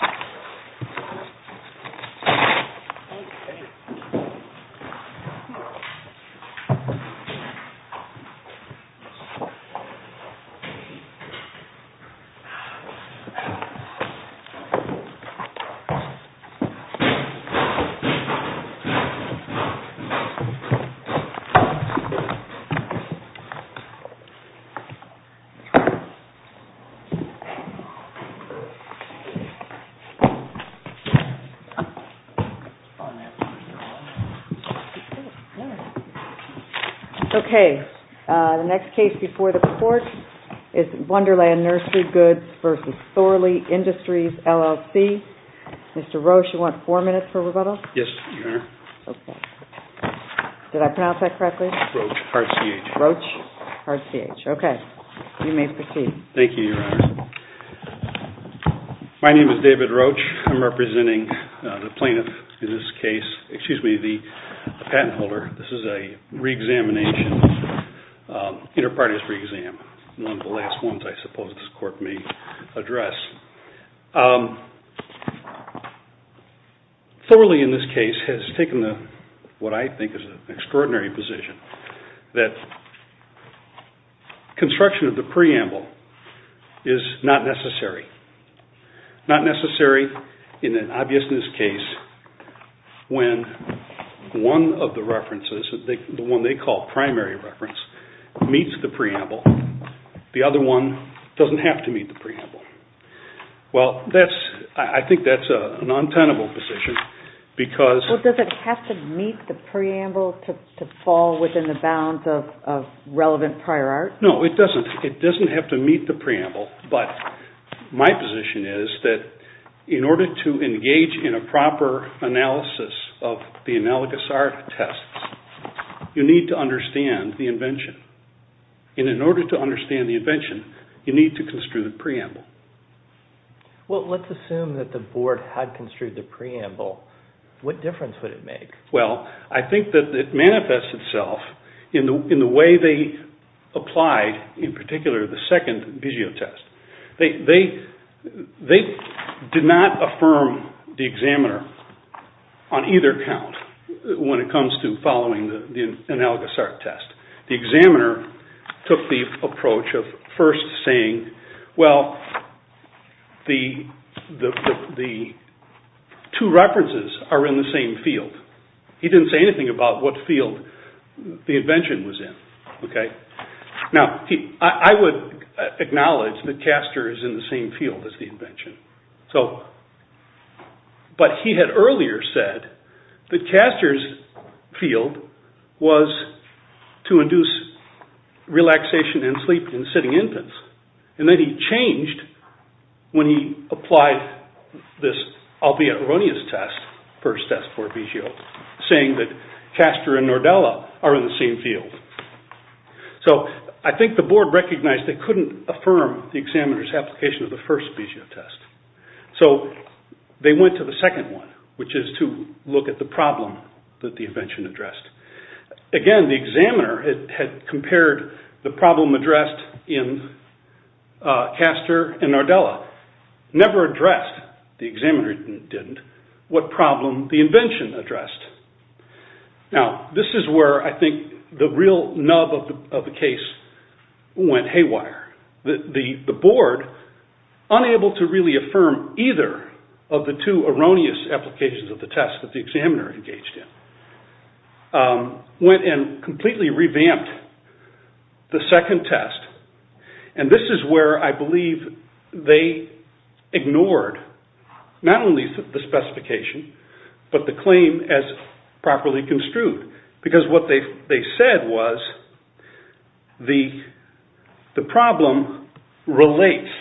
Thorley Nursery Goods Co. v. Thorley Industries LLC Okay, the next case before the court is Wonderland Nursery Goods v. Thorley Industries LLC. Mr. Roche, you want four minutes for rebuttal? Yes, Your Honor. Okay. Did I pronounce that correctly? Roche, R-C-H. Roche, R-C-H. Okay. You may proceed. Thank you, Your Honor. My name is David Roche. I'm representing the plaintiff in this case, excuse me, the patent holder. This is a reexamination, inter partes reexam. One of the last ones I suppose this court may address. Thorley in this case has taken what I think is an extraordinary position. That construction of the preamble is not necessary. Not necessary in an obviousness case when one of the references, the one they call primary reference, meets the preamble. The other one doesn't have to meet the preamble. Well, I think that's an untenable position because... Well, does it have to meet the preamble to fall within the bounds of relevant prior art? No, it doesn't. It doesn't have to meet the preamble, but my position is that in order to engage in a proper analysis of the analogous art test, you need to understand the invention. And in order to understand the invention, you need to construe the preamble. Well, let's assume that the board had construed the preamble. What difference would it make? Well, I think that it manifests itself in the way they applied, in particular, the second Bigeot test. They did not affirm the examiner on either count when it comes to following the analogous art test. The examiner took the approach of first saying, well, the two references are in the same field. He didn't say anything about what field the invention was in. Now, I would acknowledge that Castor is in the same field as the invention. But he had earlier said that Castor's field was to induce relaxation and sleep in sitting infants. And then he changed when he applied this, albeit erroneous test, first test for Bigeot, saying that Castor and Nordella are in the same field. So, I think the board recognized they couldn't affirm the examiner's application of the first Bigeot test. So, they went to the second one, which is to look at the problem that the invention addressed. Again, the examiner had compared the problem addressed in Castor and Nordella. Never addressed, the examiner didn't, what problem the invention addressed. Now, this is where I think the real nub of the case went haywire. The board, unable to really affirm either of the two erroneous applications of the test that the examiner engaged in, went and completely revamped the second test. And this is where I believe they ignored, not only the specification, but the claim as properly construed. Because what they said was, the problem relates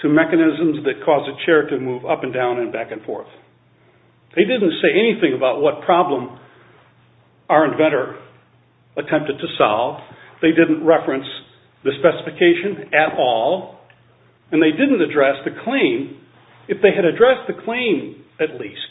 to mechanisms that cause a chair to move up and down and back and forth. They didn't say anything about what problem our inventor attempted to solve. They didn't reference the specification at all. And they didn't address the claim. If they had addressed the claim, at least,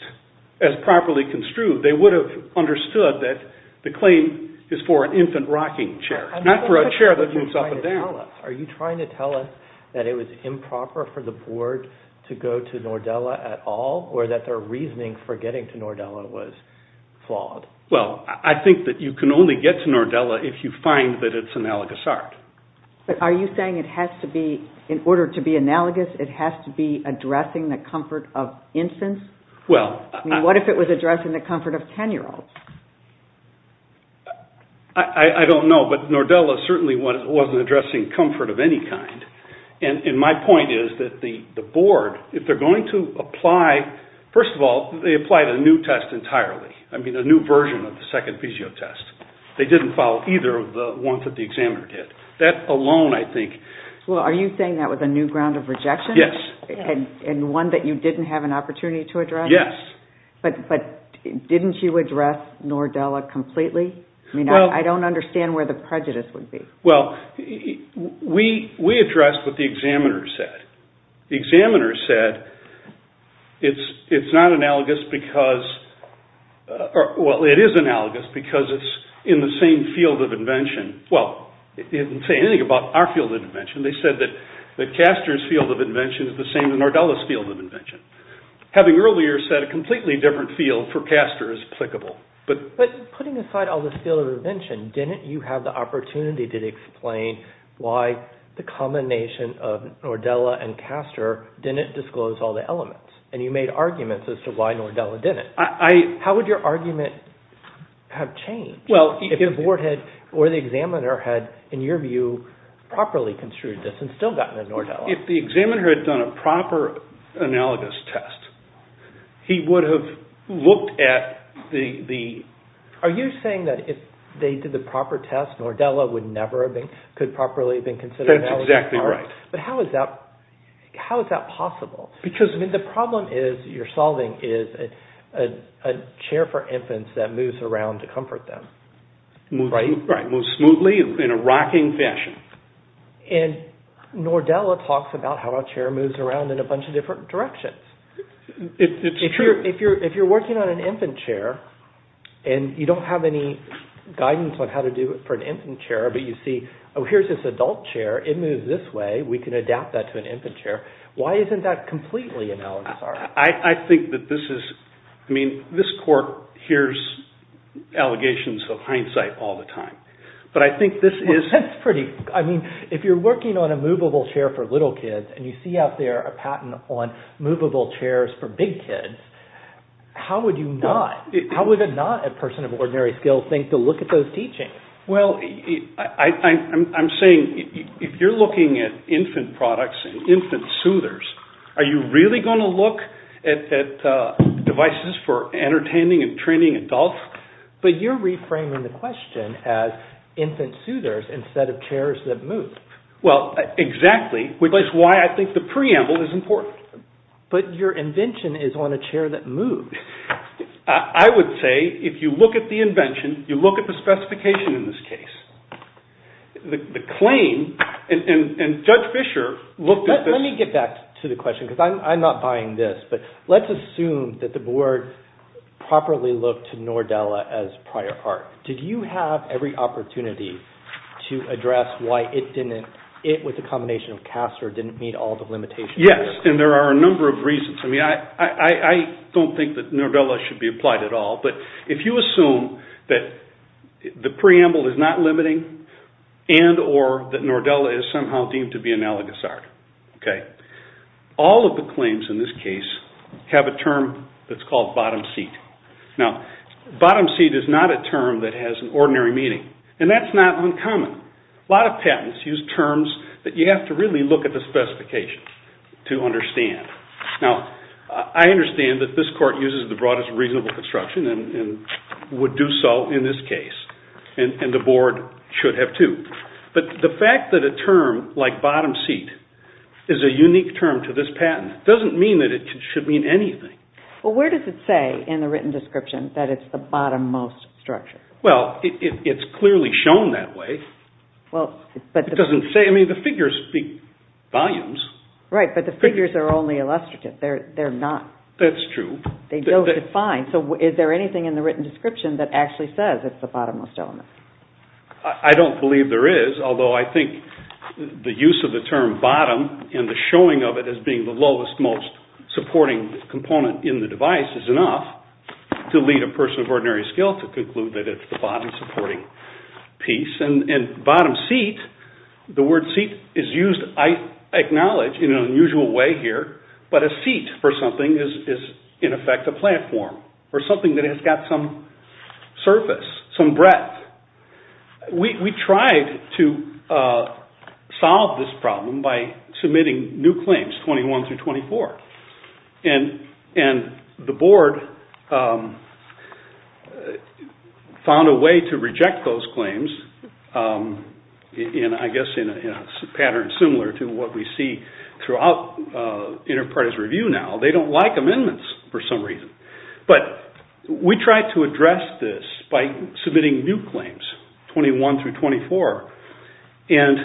as properly construed, they would have understood that the claim is for an infant rocking chair. Not for a chair that moves up and down. Are you trying to tell us that it was improper for the board to go to Nordella at all? Or that their reasoning for getting to Nordella was flawed? Well, I think that you can only get to Nordella if you find that it's analogous art. But are you saying it has to be, in order to be analogous, it has to be addressing the comfort of infants? I mean, what if it was addressing the comfort of 10-year-olds? I don't know. But Nordella certainly wasn't addressing comfort of any kind. And my point is that the board, if they're going to apply, first of all, they applied a new test entirely. I mean, a new version of the second physio test. They didn't follow either of the ones that the examiner did. That alone, I think... Well, are you saying that was a new ground of rejection? Yes. And one that you didn't have an opportunity to address? Yes. But didn't you address Nordella completely? I mean, I don't understand where the prejudice would be. Well, we addressed what the examiner said. The examiner said it's not analogous because... Well, it is analogous because it's in the same field of invention. Well, it didn't say anything about our field of invention. They said that Caster's field of invention is the same as Nordella's field of invention. Having earlier said a completely different field for Caster is applicable. But putting aside all this field of invention, didn't you have the opportunity to explain why the combination of Nordella and Caster didn't disclose all the elements? And you made arguments as to why Nordella didn't. How would your argument have changed? Well, if the board had, or the examiner had, in your view, properly construed this and still gotten a Nordella. If the examiner had done a proper analogous test, he would have looked at the... Are you saying that if they did the proper test, Nordella could never have properly been considered an analogous part? That's exactly right. But how is that possible? Because... The problem you're solving is a chair for infants that moves around to comfort them. Right. Moves smoothly in a rocking fashion. And Nordella talks about how a chair moves around in a bunch of different directions. It's true. If you're working on an infant chair, and you don't have any guidance on how to do it for an infant chair, but you see, oh, here's this adult chair. It moves this way. We can adapt that to an infant chair. Why isn't that completely analogous? I think that this is... I mean, this court hears allegations of hindsight all the time. But I think this is... Well, that's pretty... I mean, if you're working on a movable chair for little kids, and you see out there a patent on movable chairs for big kids, how would you not? How would not a person of ordinary skill think to look at those teachings? Well, I'm saying if you're looking at infant products and infant soothers, are you really going to look at devices for entertaining and training adults? But you're reframing the question as infant soothers instead of chairs that move. Well, exactly. Which is why I think the preamble is important. But your invention is on a chair that moves. I would say if you look at the invention, you look at the specification in this case. The claim, and Judge Fischer looked at this... Let me get back to the question, because I'm not buying this, but let's assume that the board properly looked to Nordella as prior art. Did you have every opportunity to address why it, with the combination of Castor, didn't meet all the limitations? Yes, and there are a number of reasons. I mean, I don't think that Nordella should be applied at all. But if you assume that the preamble is not limiting and or that Nordella is somehow deemed to be analogous art, all of the claims in this case have a term that's called bottom seat. Now, bottom seat is not a term that has an ordinary meaning, and that's not uncommon. A lot of patents use terms that you have to really look at the specification to understand. Now, I understand that this court uses the broadest reasonable construction and would do so in this case, and the board should have too. But the fact that a term like bottom seat is a unique term to this patent doesn't mean that it should mean anything. Well, where does it say in the written description that it's the bottom most structure? Well, it's clearly shown that way. It doesn't say. I mean, the figures speak volumes. Right, but the figures are only illustrative. They're not. That's true. They don't define. So is there anything in the written description that actually says it's the bottom most element? I don't believe there is, although I think the use of the term bottom and the showing of it as being the lowest most supporting component in the device is enough to lead a person of ordinary skill to conclude that it's the bottom supporting piece. And bottom seat, the word seat is used, I acknowledge, in an unusual way here, but a seat for something is, in effect, a platform or something that has got some surface, some breadth. We tried to solve this problem by submitting new claims, 21 through 24, and the board found a way to reject those claims, I guess in a pattern similar to what we see throughout inter-parties review now. They don't like amendments for some reason, but we tried to address this by submitting new claims, 21 through 24, and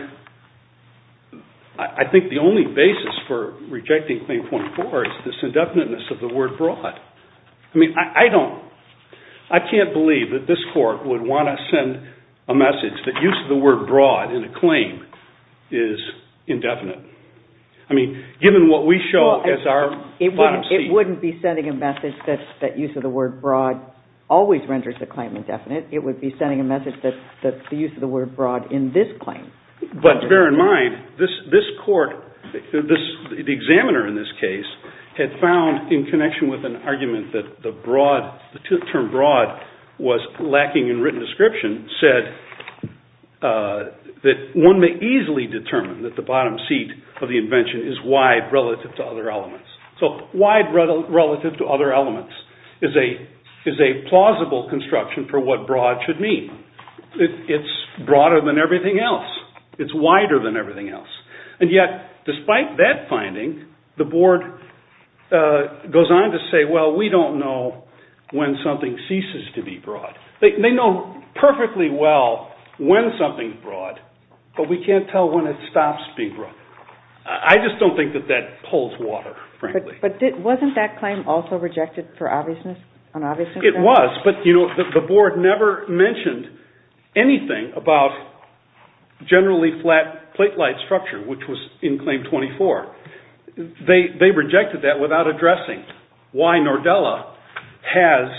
I think the only basis for rejecting claim 24 is this indefiniteness of the word broad. I mean, I don't, I can't believe that this court would want to send a message that use of the word broad in a claim is indefinite. I mean, given what we show as our bottom seat. It wouldn't be sending a message that use of the word broad always renders the claim indefinite. It would be sending a message that the use of the word broad in this claim. But bear in mind, this court, the examiner in this case, had found in connection with an argument that the term broad was lacking in written description, said that one may easily determine that the bottom seat of the invention is wide relative to other elements. So wide relative to other elements is a plausible construction for what broad should mean. It's broader than everything else. It's wider than everything else. And yet, despite that finding, the board goes on to say, well, we don't know when something ceases to be broad. They know perfectly well when something's broad, but we can't tell when it stops being broad. I just don't think that that pulls water, frankly. But wasn't that claim also rejected for obviousness? It was, but the board never mentioned anything about generally flat plate-like structure, which was in Claim 24. They rejected that without addressing why Nordella has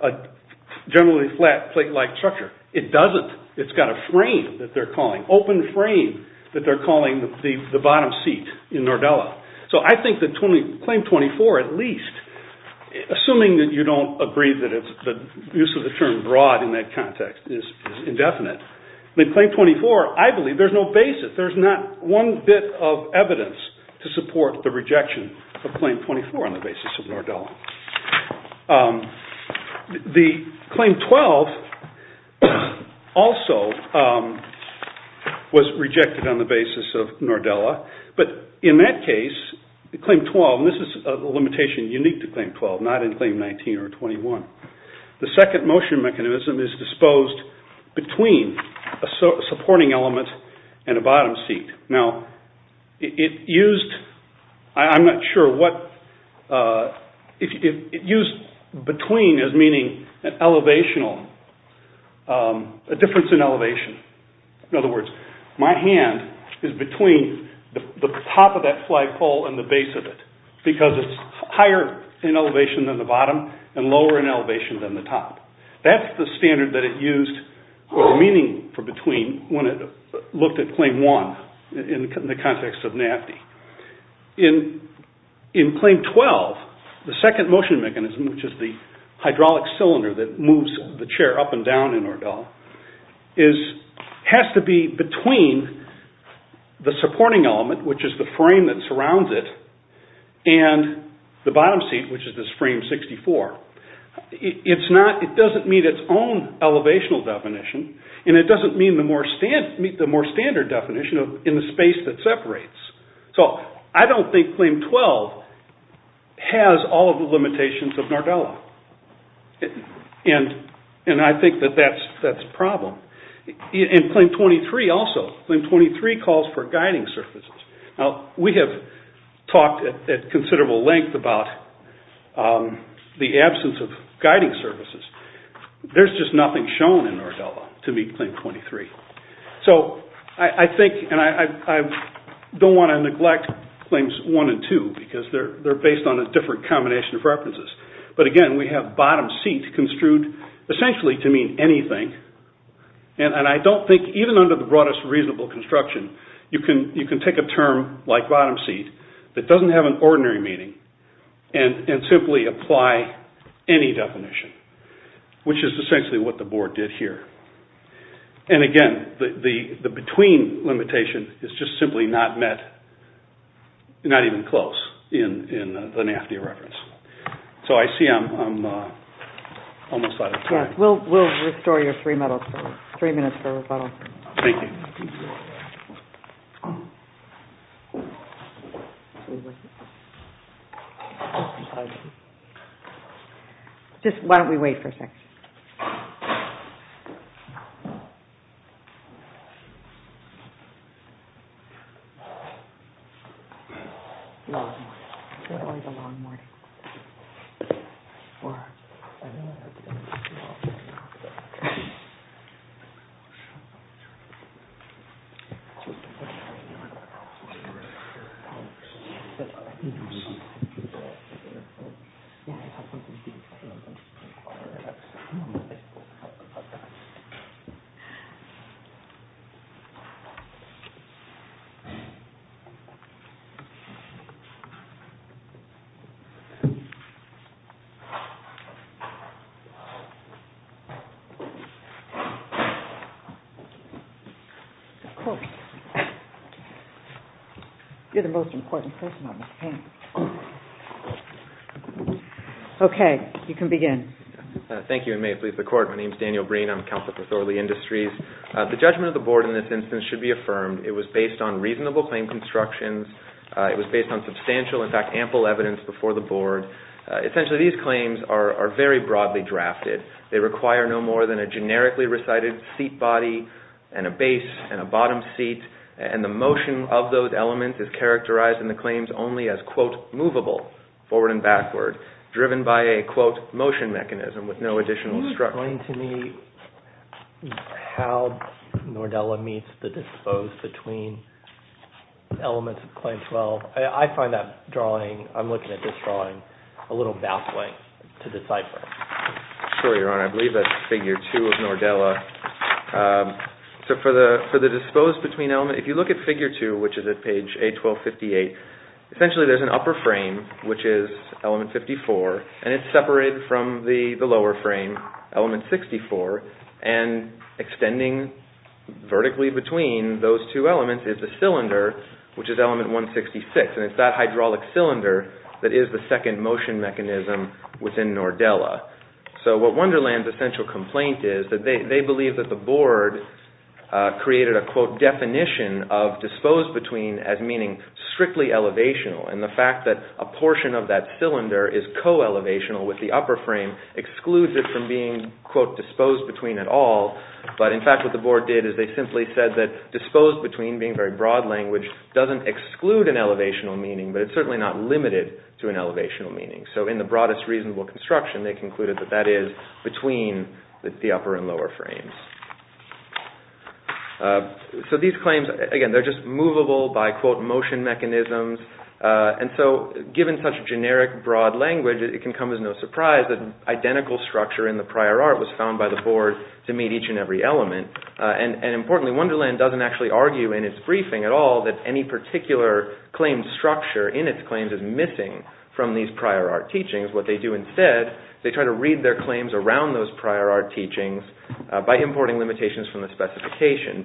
a generally flat plate-like structure. It doesn't. It's got a frame that they're calling, the bottom seat in Nordella. So I think that Claim 24, at least, assuming that you don't agree that the use of the term broad in that context is indefinite, then Claim 24, I believe, there's no basis. There's not one bit of evidence to support the rejection of Claim 24 on the basis of Nordella. The Claim 12 also was rejected on the basis of Nordella. But in that case, Claim 12, this is a limitation unique to Claim 12, not in Claim 19 or 21. The second motion mechanism is disposed between a supporting element and a bottom seat. Now, it used, I'm not sure what, it used between as meaning an elevation, a difference in elevation. In other words, my hand is between the top of that flagpole and the base of it, because it's higher in elevation than the bottom and lower in elevation than the top. That's the standard that it used or the meaning for between when it looked at Claim 1 in the context of NAFDI. In Claim 12, the second motion mechanism, which is the hydraulic cylinder that moves the chair up and down in Nordella, has to be between the supporting element, which is the frame that surrounds it, and the bottom seat, which is this frame 64. It's not, it doesn't meet its own elevational definition, and it doesn't meet the more standard definition in the space that separates. So, I don't think Claim 12 has all of the limitations of Nordella. And I think that that's a problem. In Claim 23 also, Claim 23 calls for guiding surfaces. Now, we have talked at considerable length about the absence of guiding surfaces. There's just nothing shown in Nordella to meet Claim 23. So, I think, and I don't want to neglect Claims 1 and 2, because they're based on a different combination of references. But again, we have bottom seat construed essentially to mean anything. And I don't think, even under the broadest reasonable construction, you can take a term like bottom seat that doesn't have an ordinary meaning and simply apply any definition, which is essentially what the board did here. And again, the between limitation is just simply not met, not even close in the NAFTA reference. So, I see I'm almost out of time. We'll restore your three minutes for rebuttal. Thank you. Just why don't we wait for a second. Okay. Of course. You're the most important person on this panel. Okay. You can begin. Thank you, and may it please the Court. My name is Daniel Green. I'm with Council for Authority Industries. The judgment of the board in this instance should be affirmed. It was based on reasonable claim constructions. It was based on substantial, in fact, ample evidence before the board. Essentially, these claims are very broadly drafted. They require no more than a generically recited seat body and a base and a bottom seat, and the motion of those elements is characterized in the claims only as, quote, movable, forward and backward, driven by a, quote, motion mechanism with no additional structure. Can you explain to me how Nordella meets the dispose between elements of Claim 12? I find that drawing, I'm looking at this drawing, a little baffling to decipher. Sure, Your Honor. I believe that's Figure 2 of Nordella. So for the dispose between element, if you look at Figure 2, which is at page A1258, essentially there's an upper frame, which is element 54, and it's separated from the lower frame, element 64, and extending vertically between those two elements is the cylinder, which is element 166, and it's that hydraulic cylinder that is the second motion mechanism within Nordella. So what Wonderland's essential complaint is that they believe that the board created a, quote, definition of dispose between as meaning strictly elevational, and the fact that a portion of that cylinder is co-elevational with the upper frame excludes it from being, quote, dispose between at all, but in fact what the board did is they simply said that dispose between, being very broad language, doesn't exclude an elevational meaning, but it's certainly not limited to an elevational meaning. So in the broadest reasonable construction, they concluded that that is between the upper and lower frames. So these claims, again, they're just movable by, quote, motion mechanisms, and so given such generic broad language, it can come as no surprise that identical structure in the prior art was found by the board to meet each and every element, and importantly, Wonderland doesn't actually argue in its briefing at all that any particular claim structure in its claims is missing from these prior art teachings. What they do instead, they try to read their claims around those prior art teachings by importing limitations from the specification.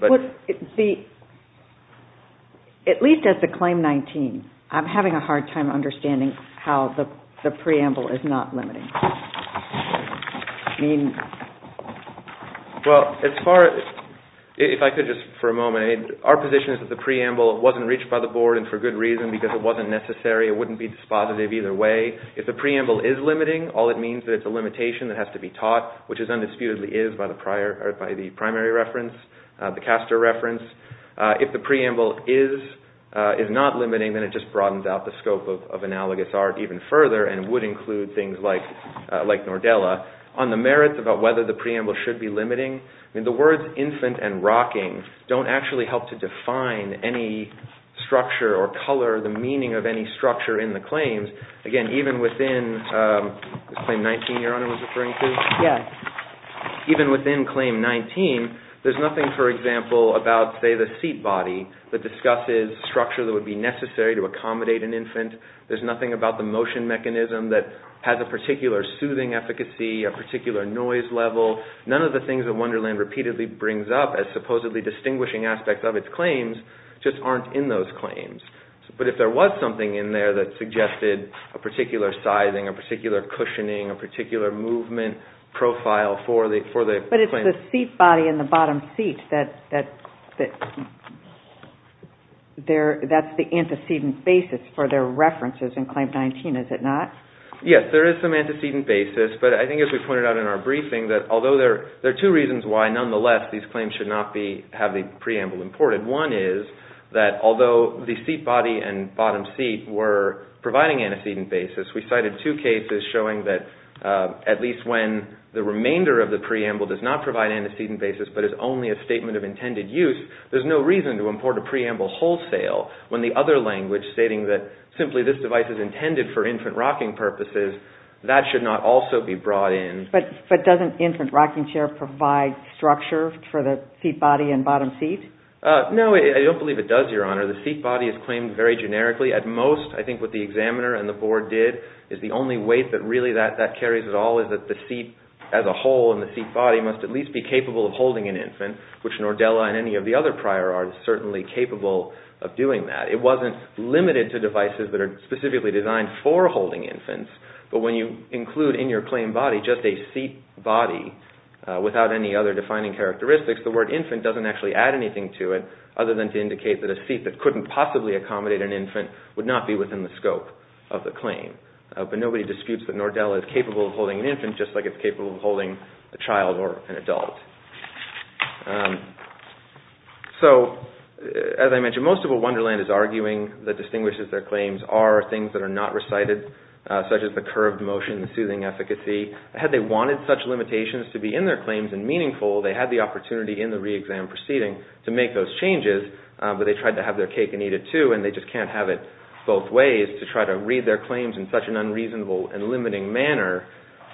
At least as to claim 19, I'm having a hard time understanding how the preamble is not limiting. Well, as far as, if I could just for a moment, our position is that the preamble wasn't reached by the board and for good reason because it wasn't necessary. It wouldn't be dispositive either way. If the preamble is limiting, all it means is that it's a limitation that has to be taught, which it undisputedly is by the primary reference, the caster reference. If the preamble is not limiting, then it just broadens out the scope of analogous art even further and would include things like Nordella. On the merits about whether the preamble should be limiting, the words infant and rocking don't actually help to define any structure or color, the meaning of any structure in the claims. Again, even within, is claim 19 you're referring to? Yes. Even within claim 19, there's nothing, for example, about, say, the seat body that discusses structure that would be necessary to accommodate an infant. There's nothing about the motion mechanism that has a particular soothing efficacy, a particular noise level. None of the things that Wonderland repeatedly brings up as supposedly distinguishing aspects of its claims just aren't in those claims. But if there was something in there that suggested a particular sizing, a particular cushioning, a particular movement profile for the claimant. But it's the seat body and the bottom seat that's the antecedent basis for their references in claim 19, is it not? Yes, there is some antecedent basis. But I think, as we pointed out in our briefing, that although there are two reasons why, nonetheless, these claims should not have the preamble imported. One is that although the seat body and bottom seat were providing antecedent basis, we cited two cases showing that at least when the remainder of the preamble does not provide antecedent basis but is only a statement of intended use, there's no reason to import a preamble wholesale when the other language stating that simply this device is intended for infant rocking purposes, that should not also be brought in. But doesn't infant rocking chair provide structure for the seat body and bottom seat? No, I don't believe it does, Your Honor. The seat body is claimed very generically. At most, I think what the examiner and the board did is the only weight that really that carries at all is that the seat as a whole and the seat body must at least be capable of holding an infant, which Nordella and any of the other prior are certainly capable of doing that. It wasn't limited to devices that are specifically designed for holding infants, but when you include in your claim body just a seat body without any other defining characteristics, the word infant doesn't actually add anything to it other than to indicate that a seat that couldn't possibly accommodate an infant would not be within the scope of the claim. But nobody disputes that Nordella is capable of holding an infant just like it's capable of holding a child or an adult. So, as I mentioned, most of what Wonderland is arguing that distinguishes their claims are things that are not recited, such as the curved motion, the soothing efficacy. Had they wanted such limitations to be in their claims and meaningful, they had the opportunity in the re-exam proceeding to make those changes, but they tried to have their cake and eat it too, and they just can't have it both ways to try to read their claims in such an unreasonable and limiting manner.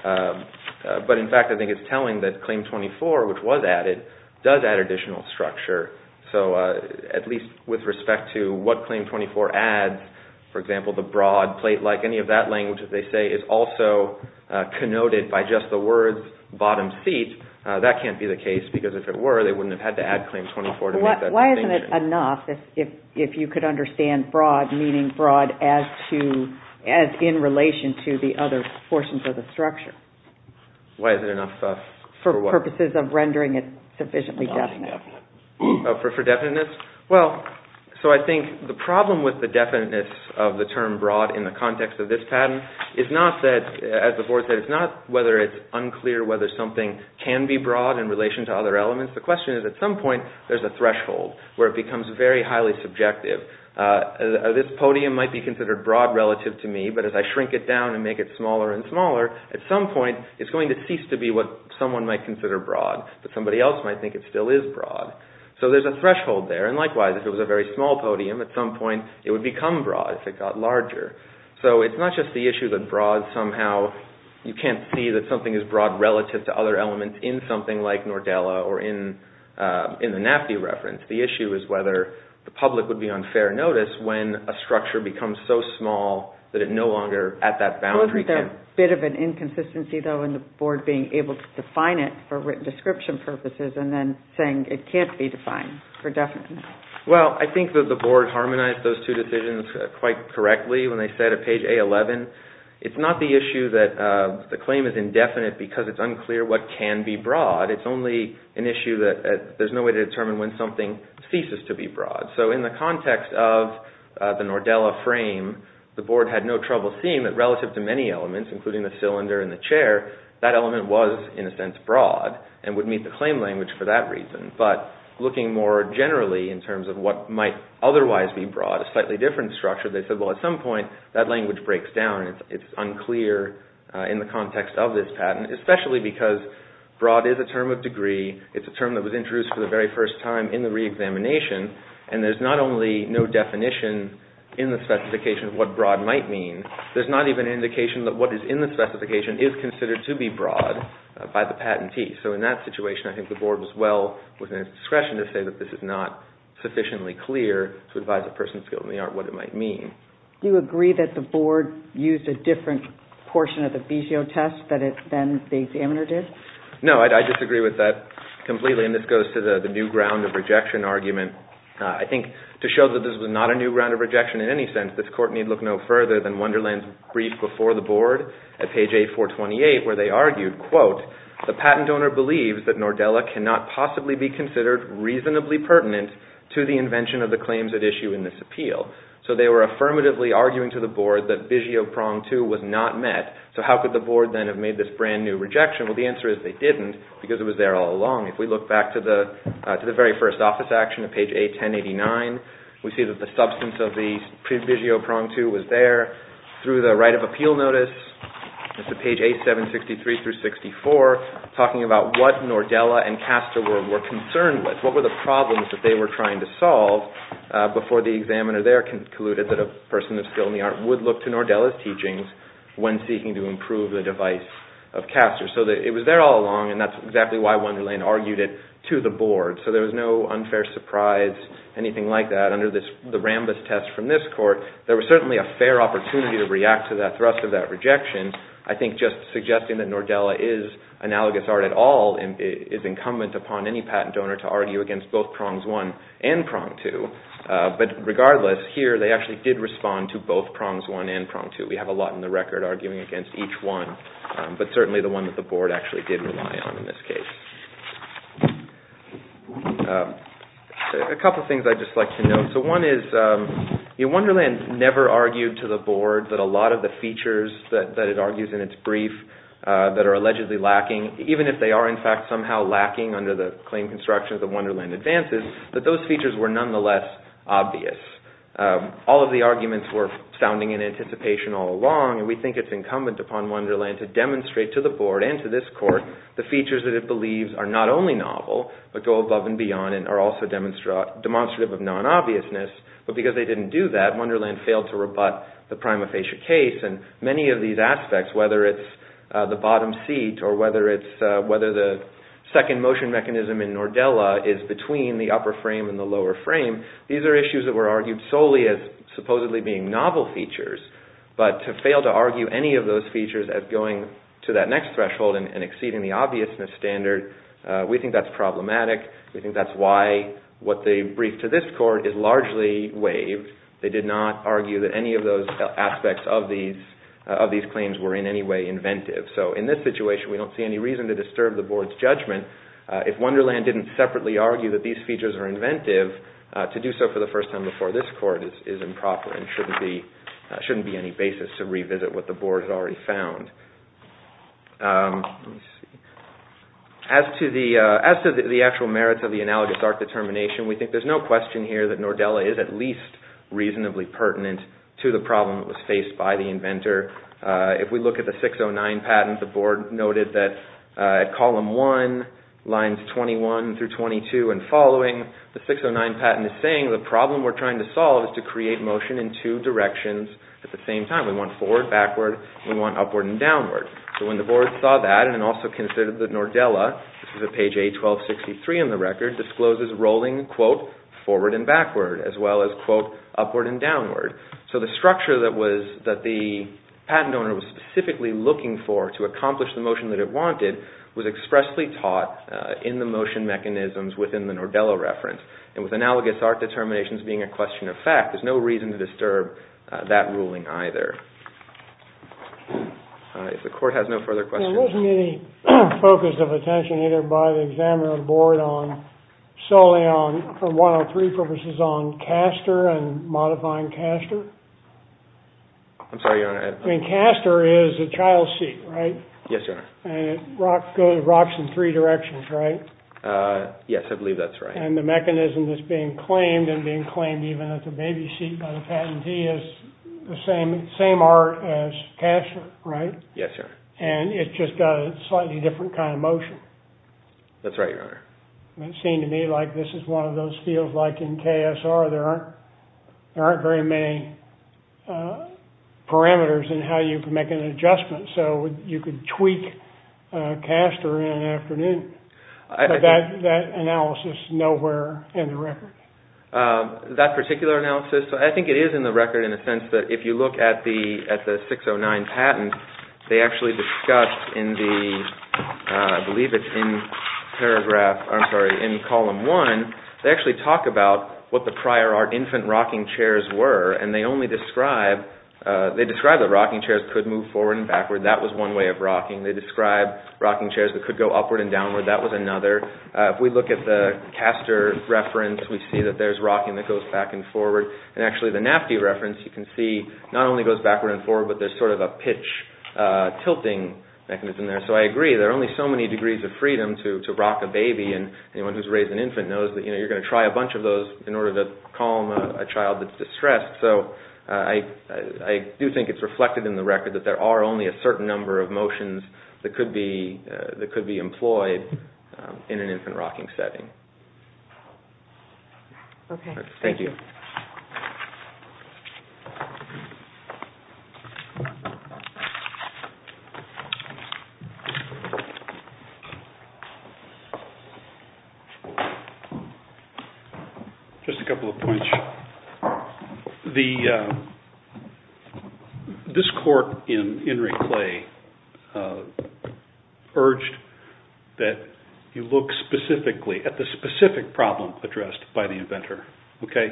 But, in fact, I think it's telling that Claim 24, which was added, does add additional structure. So, at least with respect to what Claim 24 adds, for example, the broad plate, like any of that language that they say is also connoted by just the words bottom seat, that can't be the case because if it were, they wouldn't have had to add Claim 24 to make that distinction. If you could understand broad, meaning broad as in relation to the other portions of the structure. Why is it enough for what? For purposes of rendering it sufficiently definite. For definiteness? Well, so I think the problem with the definiteness of the term broad in the context of this pattern is not that, as the board said, it's not whether it's unclear whether something can be broad in relation to other elements. The question is, at some point, there's a threshold where it becomes very highly subjective. This podium might be considered broad relative to me, but as I shrink it down and make it smaller and smaller, at some point, it's going to cease to be what someone might consider broad, but somebody else might think it still is broad. So, there's a threshold there, and likewise, if it was a very small podium, at some point, it would become broad if it got larger. So, it's not just the issue that broad somehow, you can't see that something is broad relative to other elements in something like Nordella or in the NAFTA reference. The issue is whether the public would be on fair notice when a structure becomes so small that it no longer, at that boundary, can... Wasn't there a bit of an inconsistency, though, in the board being able to define it for written description purposes and then saying it can't be defined for definiteness? Well, I think that the board harmonized those two decisions quite correctly when they said at page A11, it's not the issue that the claim is indefinite because it's unclear what can be broad. It's only an issue that there's no way to determine when something ceases to be broad. So, in the context of the Nordella frame, the board had no trouble seeing that relative to many elements, including the cylinder and the chair, that element was, in a sense, broad and would meet the claim language for that reason, but looking more generally in terms of what might otherwise be broad, a slightly different structure, they said, well, at some point, that language breaks down. It's unclear in the context of this patent, especially because broad is a term of degree. It's a term that was introduced for the very first time in the reexamination, and there's not only no definition in the specification of what broad might mean, there's not even an indication that what is in the specification is considered to be broad by the patentee. So, in that situation, I think the board was well within its discretion to say that this is not sufficiently clear to advise a person skilled in the art what it might mean. Do you agree that the board used a different portion of the BGO test than the examiner did? No, I disagree with that completely, and this goes to the new ground of rejection argument. I think to show that this was not a new ground of rejection in any sense, this Court need look no further than Wonderland's brief before the board at page 8-428, where they argued, quote, the patent owner believes that Nordella cannot possibly be considered reasonably pertinent to the invention of the claims at issue in this appeal. So, they were affirmatively arguing to the board that BGO prong 2 was not met. So, how could the board then have made this brand new rejection? Well, the answer is they didn't, because it was there all along. If we look back to the very first office action at page 8-1089, we see that the substance of the BGO prong 2 was there. Through the right of appeal notice, to page 8-763-64, talking about what Nordella and Castor were concerned with, what were the problems that they were trying to solve, before the examiner there concluded that a person of skill in the art would look to Nordella's teachings when seeking to improve the device of Castor. So, it was there all along, and that's exactly why Wonderland argued it to the board. So, there was no unfair surprise, anything like that. Under the Rambus test from this court, there was certainly a fair opportunity to react to that thrust of that rejection. I think just suggesting that Nordella is analogous art at all is incumbent upon any patent owner to argue against both prongs 1 and prong 2. But regardless, here they actually did respond to both prongs 1 and prong 2. We have a lot in the record arguing against each one, but certainly the one that the board actually did rely on in this case. A couple of things I'd just like to note. One is, Wonderland never argued to the board that a lot of the features that it argues in its brief that are allegedly lacking, even if they are in fact somehow lacking under the claim construction of the Wonderland advances, that those features were nonetheless obvious. All of the arguments were sounding in anticipation all along, and we think it's incumbent upon Wonderland to demonstrate to the board and to this court the features that it believes are not only novel, but go above and beyond and are also demonstrative of non-obviousness. But because they didn't do that, Wonderland failed to rebut the prima facie case. Many of these aspects, whether it's the bottom seat or whether the second motion mechanism in Nordella is between the upper frame and the lower frame, these are issues that were argued solely as supposedly being novel features. But to fail to argue any of those features as going to that next threshold and exceeding the obviousness standard, we think that's problematic. We think that's why what they briefed to this court is largely waived. They did not argue that any of those aspects of these claims were in any way inventive. So in this situation, we don't see any reason to disturb the board's judgment. If Wonderland didn't separately argue that these features are inventive, to do so for the first time before this court is improper and shouldn't be any basis to revisit what the board has already found. As to the actual merits of the analogous art determination, we think there's no question here that Nordella is at least reasonably pertinent to the problem that was faced by the inventor. If we look at the 609 patent, the board noted that at column one, lines 21 through 22 and following, the 609 patent is saying the problem we're trying to solve is to create motion in two directions at the same time. We want forward, backward, and we want upward and downward. So when the board saw that and also considered that Nordella, this is at page A1263 in the record, discloses rolling, quote, forward and backward, as well as, quote, upward and downward. So the structure that the patent owner was specifically looking for to accomplish the motion that it wanted was expressly taught in the motion mechanisms within the Nordella reference. And with analogous art determinations being a question of fact, there's no reason to disturb that ruling either. If the court has no further questions. There wasn't any focus of attention either by the examiner or the board solely for 103 purposes on castor and modifying castor? I'm sorry, Your Honor. I mean, castor is a child's seat, right? Yes, Your Honor. And it rocks in three directions, right? Yes, I believe that's right. And the mechanism that's being claimed and being claimed even as a baby seat by the patentee is the same art as castor, right? Yes, Your Honor. And it's just got a slightly different kind of motion. That's right, Your Honor. And it seemed to me like this is one of those fields like in KSR. There aren't very many parameters in how you can make an adjustment. So you could tweak castor in an afternoon. But that analysis is nowhere in the record. That particular analysis, I think it is in the record in a sense that if you look at the 609 patent, they actually discuss in the, I believe it's in paragraph, I'm sorry, in column one, they actually talk about what the prior art infant rocking chairs were and they only describe, they describe that rocking chairs could move forward and backward. That was one way of rocking. They describe rocking chairs that could go upward and downward. That was another. If we look at the castor reference, we see that there's rocking that goes back and forward. And actually the NAFTY reference, you can see, not only goes backward and forward, but there's sort of a pitch tilting mechanism there. So I agree, there are only so many degrees of freedom to rock a baby and anyone who's raised an infant knows that you're going to try a bunch of those in order to calm a child that's distressed. So I do think it's reflected in the record that there are only a certain number of motions that could be employed in an infant rocking setting. Okay. Thank you. Just a couple of points. First, this court in Enricle urged that you look specifically at the specific problem addressed by the inventor. Okay.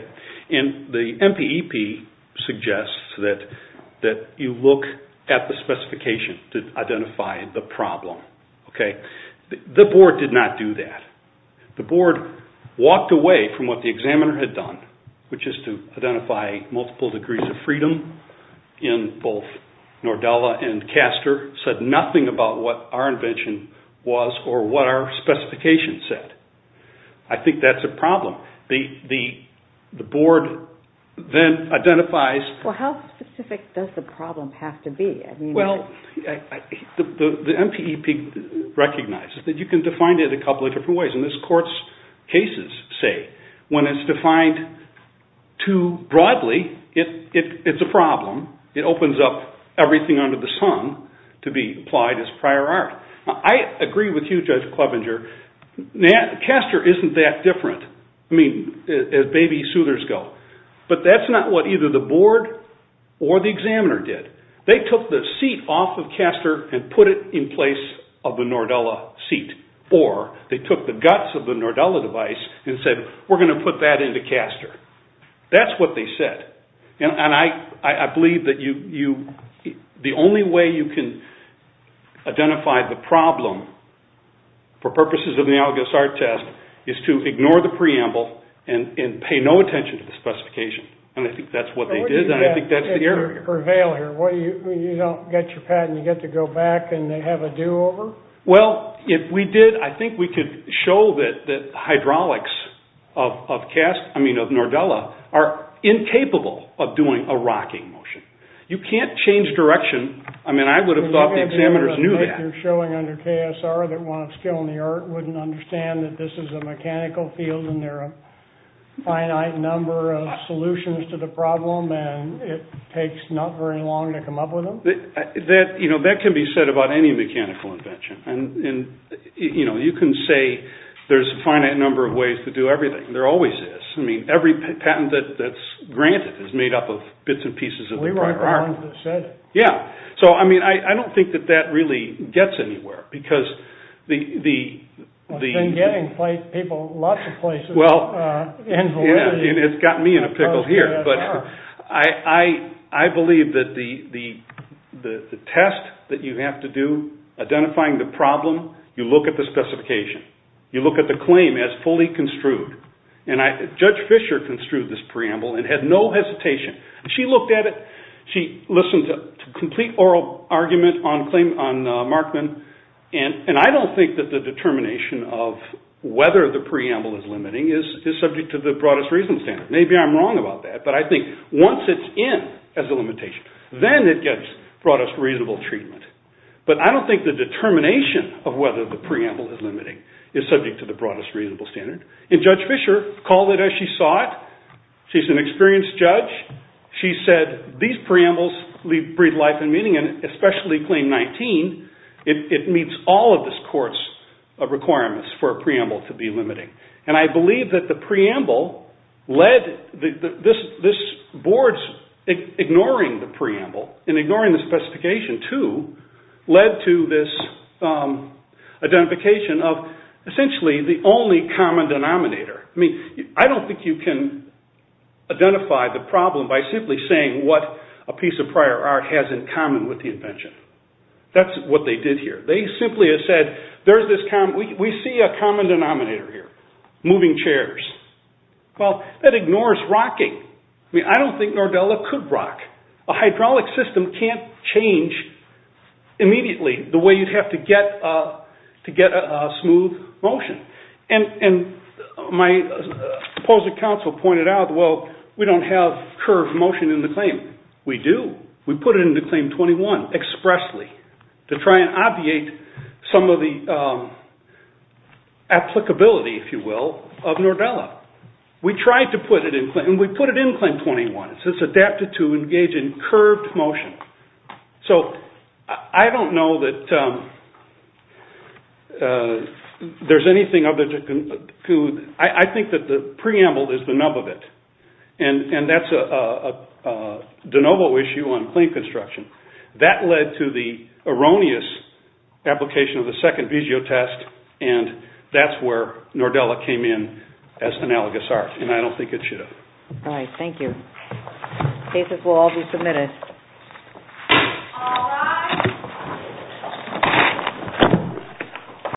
And the MPEP suggests that you look at the specification to identify the problem. Okay. The board did not do that. The board walked away from what the examiner had done, which is to identify multiple degrees of freedom in both Nordella and castor, said nothing about what our invention was or what our specification said. I think that's a problem. The board then identifies… Well, how specific does the problem have to be? Well, the MPEP recognizes that you can define it a couple of different ways. And this court's cases say when it's defined too broadly, it's a problem. It opens up everything under the sun to be applied as prior art. I agree with you, Judge Clevenger. Castor isn't that different, I mean, as baby soothers go. But that's not what either the board or the examiner did. They took the seat off of castor and put it in place of the Nordella seat, or they took the guts of the Nordella device and said, we're going to put that into castor. That's what they said. And I believe that the only way you can identify the problem, for purposes of the ALGOS-R test, is to ignore the preamble and pay no attention to the specification. And I think that's what they did, and I think that's the error. Or failure. You don't get your patent, you get to go back and they have a do-over? Well, if we did, I think we could show that hydraulics of Nordella are incapable of doing a rocking motion. You can't change direction. I mean, I would have thought the examiners knew that. They're showing under KSR that one of skill and the art wouldn't understand that this is a mechanical field and there are a finite number of solutions to the problem, and it takes not very long to come up with them. That can be said about any mechanical invention. And you can say there's a finite number of ways to do everything. There always is. I mean, every patent that's granted is made up of bits and pieces of the prior art. We weren't the ones that said it. Yeah. So, I mean, I don't think that that really gets anywhere, because the… It's been getting people lots of places. Well, it's gotten me in a pickle here, but I believe that the test that you have to do identifying the problem, you look at the specification. You look at the claim as fully construed. And Judge Fisher construed this preamble and had no hesitation. She looked at it. She listened to a complete oral argument on Markman, and I don't think that the determination of whether the preamble is limiting is subject to the broadest reasonable standard. Maybe I'm wrong about that, but I think once it's in as a limitation, then it gets broadest reasonable treatment. But I don't think the determination of whether the preamble is limiting is subject to the broadest reasonable standard. And Judge Fisher called it as she saw it. She's an experienced judge. She said these preambles breathe life and meaning, and especially Claim 19, it meets all of this court's requirements for a preamble to be limiting. And I believe that the preamble led this board's ignoring the preamble and ignoring the specification, too, led to this identification of essentially the only common denominator. I mean, I don't think you can identify the problem by simply saying what a piece of prior art has in common with the invention. That's what they did here. They simply said, we see a common denominator here, moving chairs. Well, that ignores rocking. I mean, I don't think Nordella could rock. A hydraulic system can't change immediately the way you'd have to get a smooth motion. And my opposing counsel pointed out, well, we don't have curved motion in the claim. We do. We put it into Claim 21 expressly to try and obviate some of the applicability, if you will, of Nordella. We tried to put it in Claim 21. It says adapted to engage in curved motion. So I don't know that there's anything other to conclude. I think that the preamble is the nub of it. And that's a de novo issue on claim construction. That led to the erroneous application of the second vizio test, and that's where Nordella came in as analogous art, and I don't think it should have. All right, thank you. Cases will all be submitted. All rise.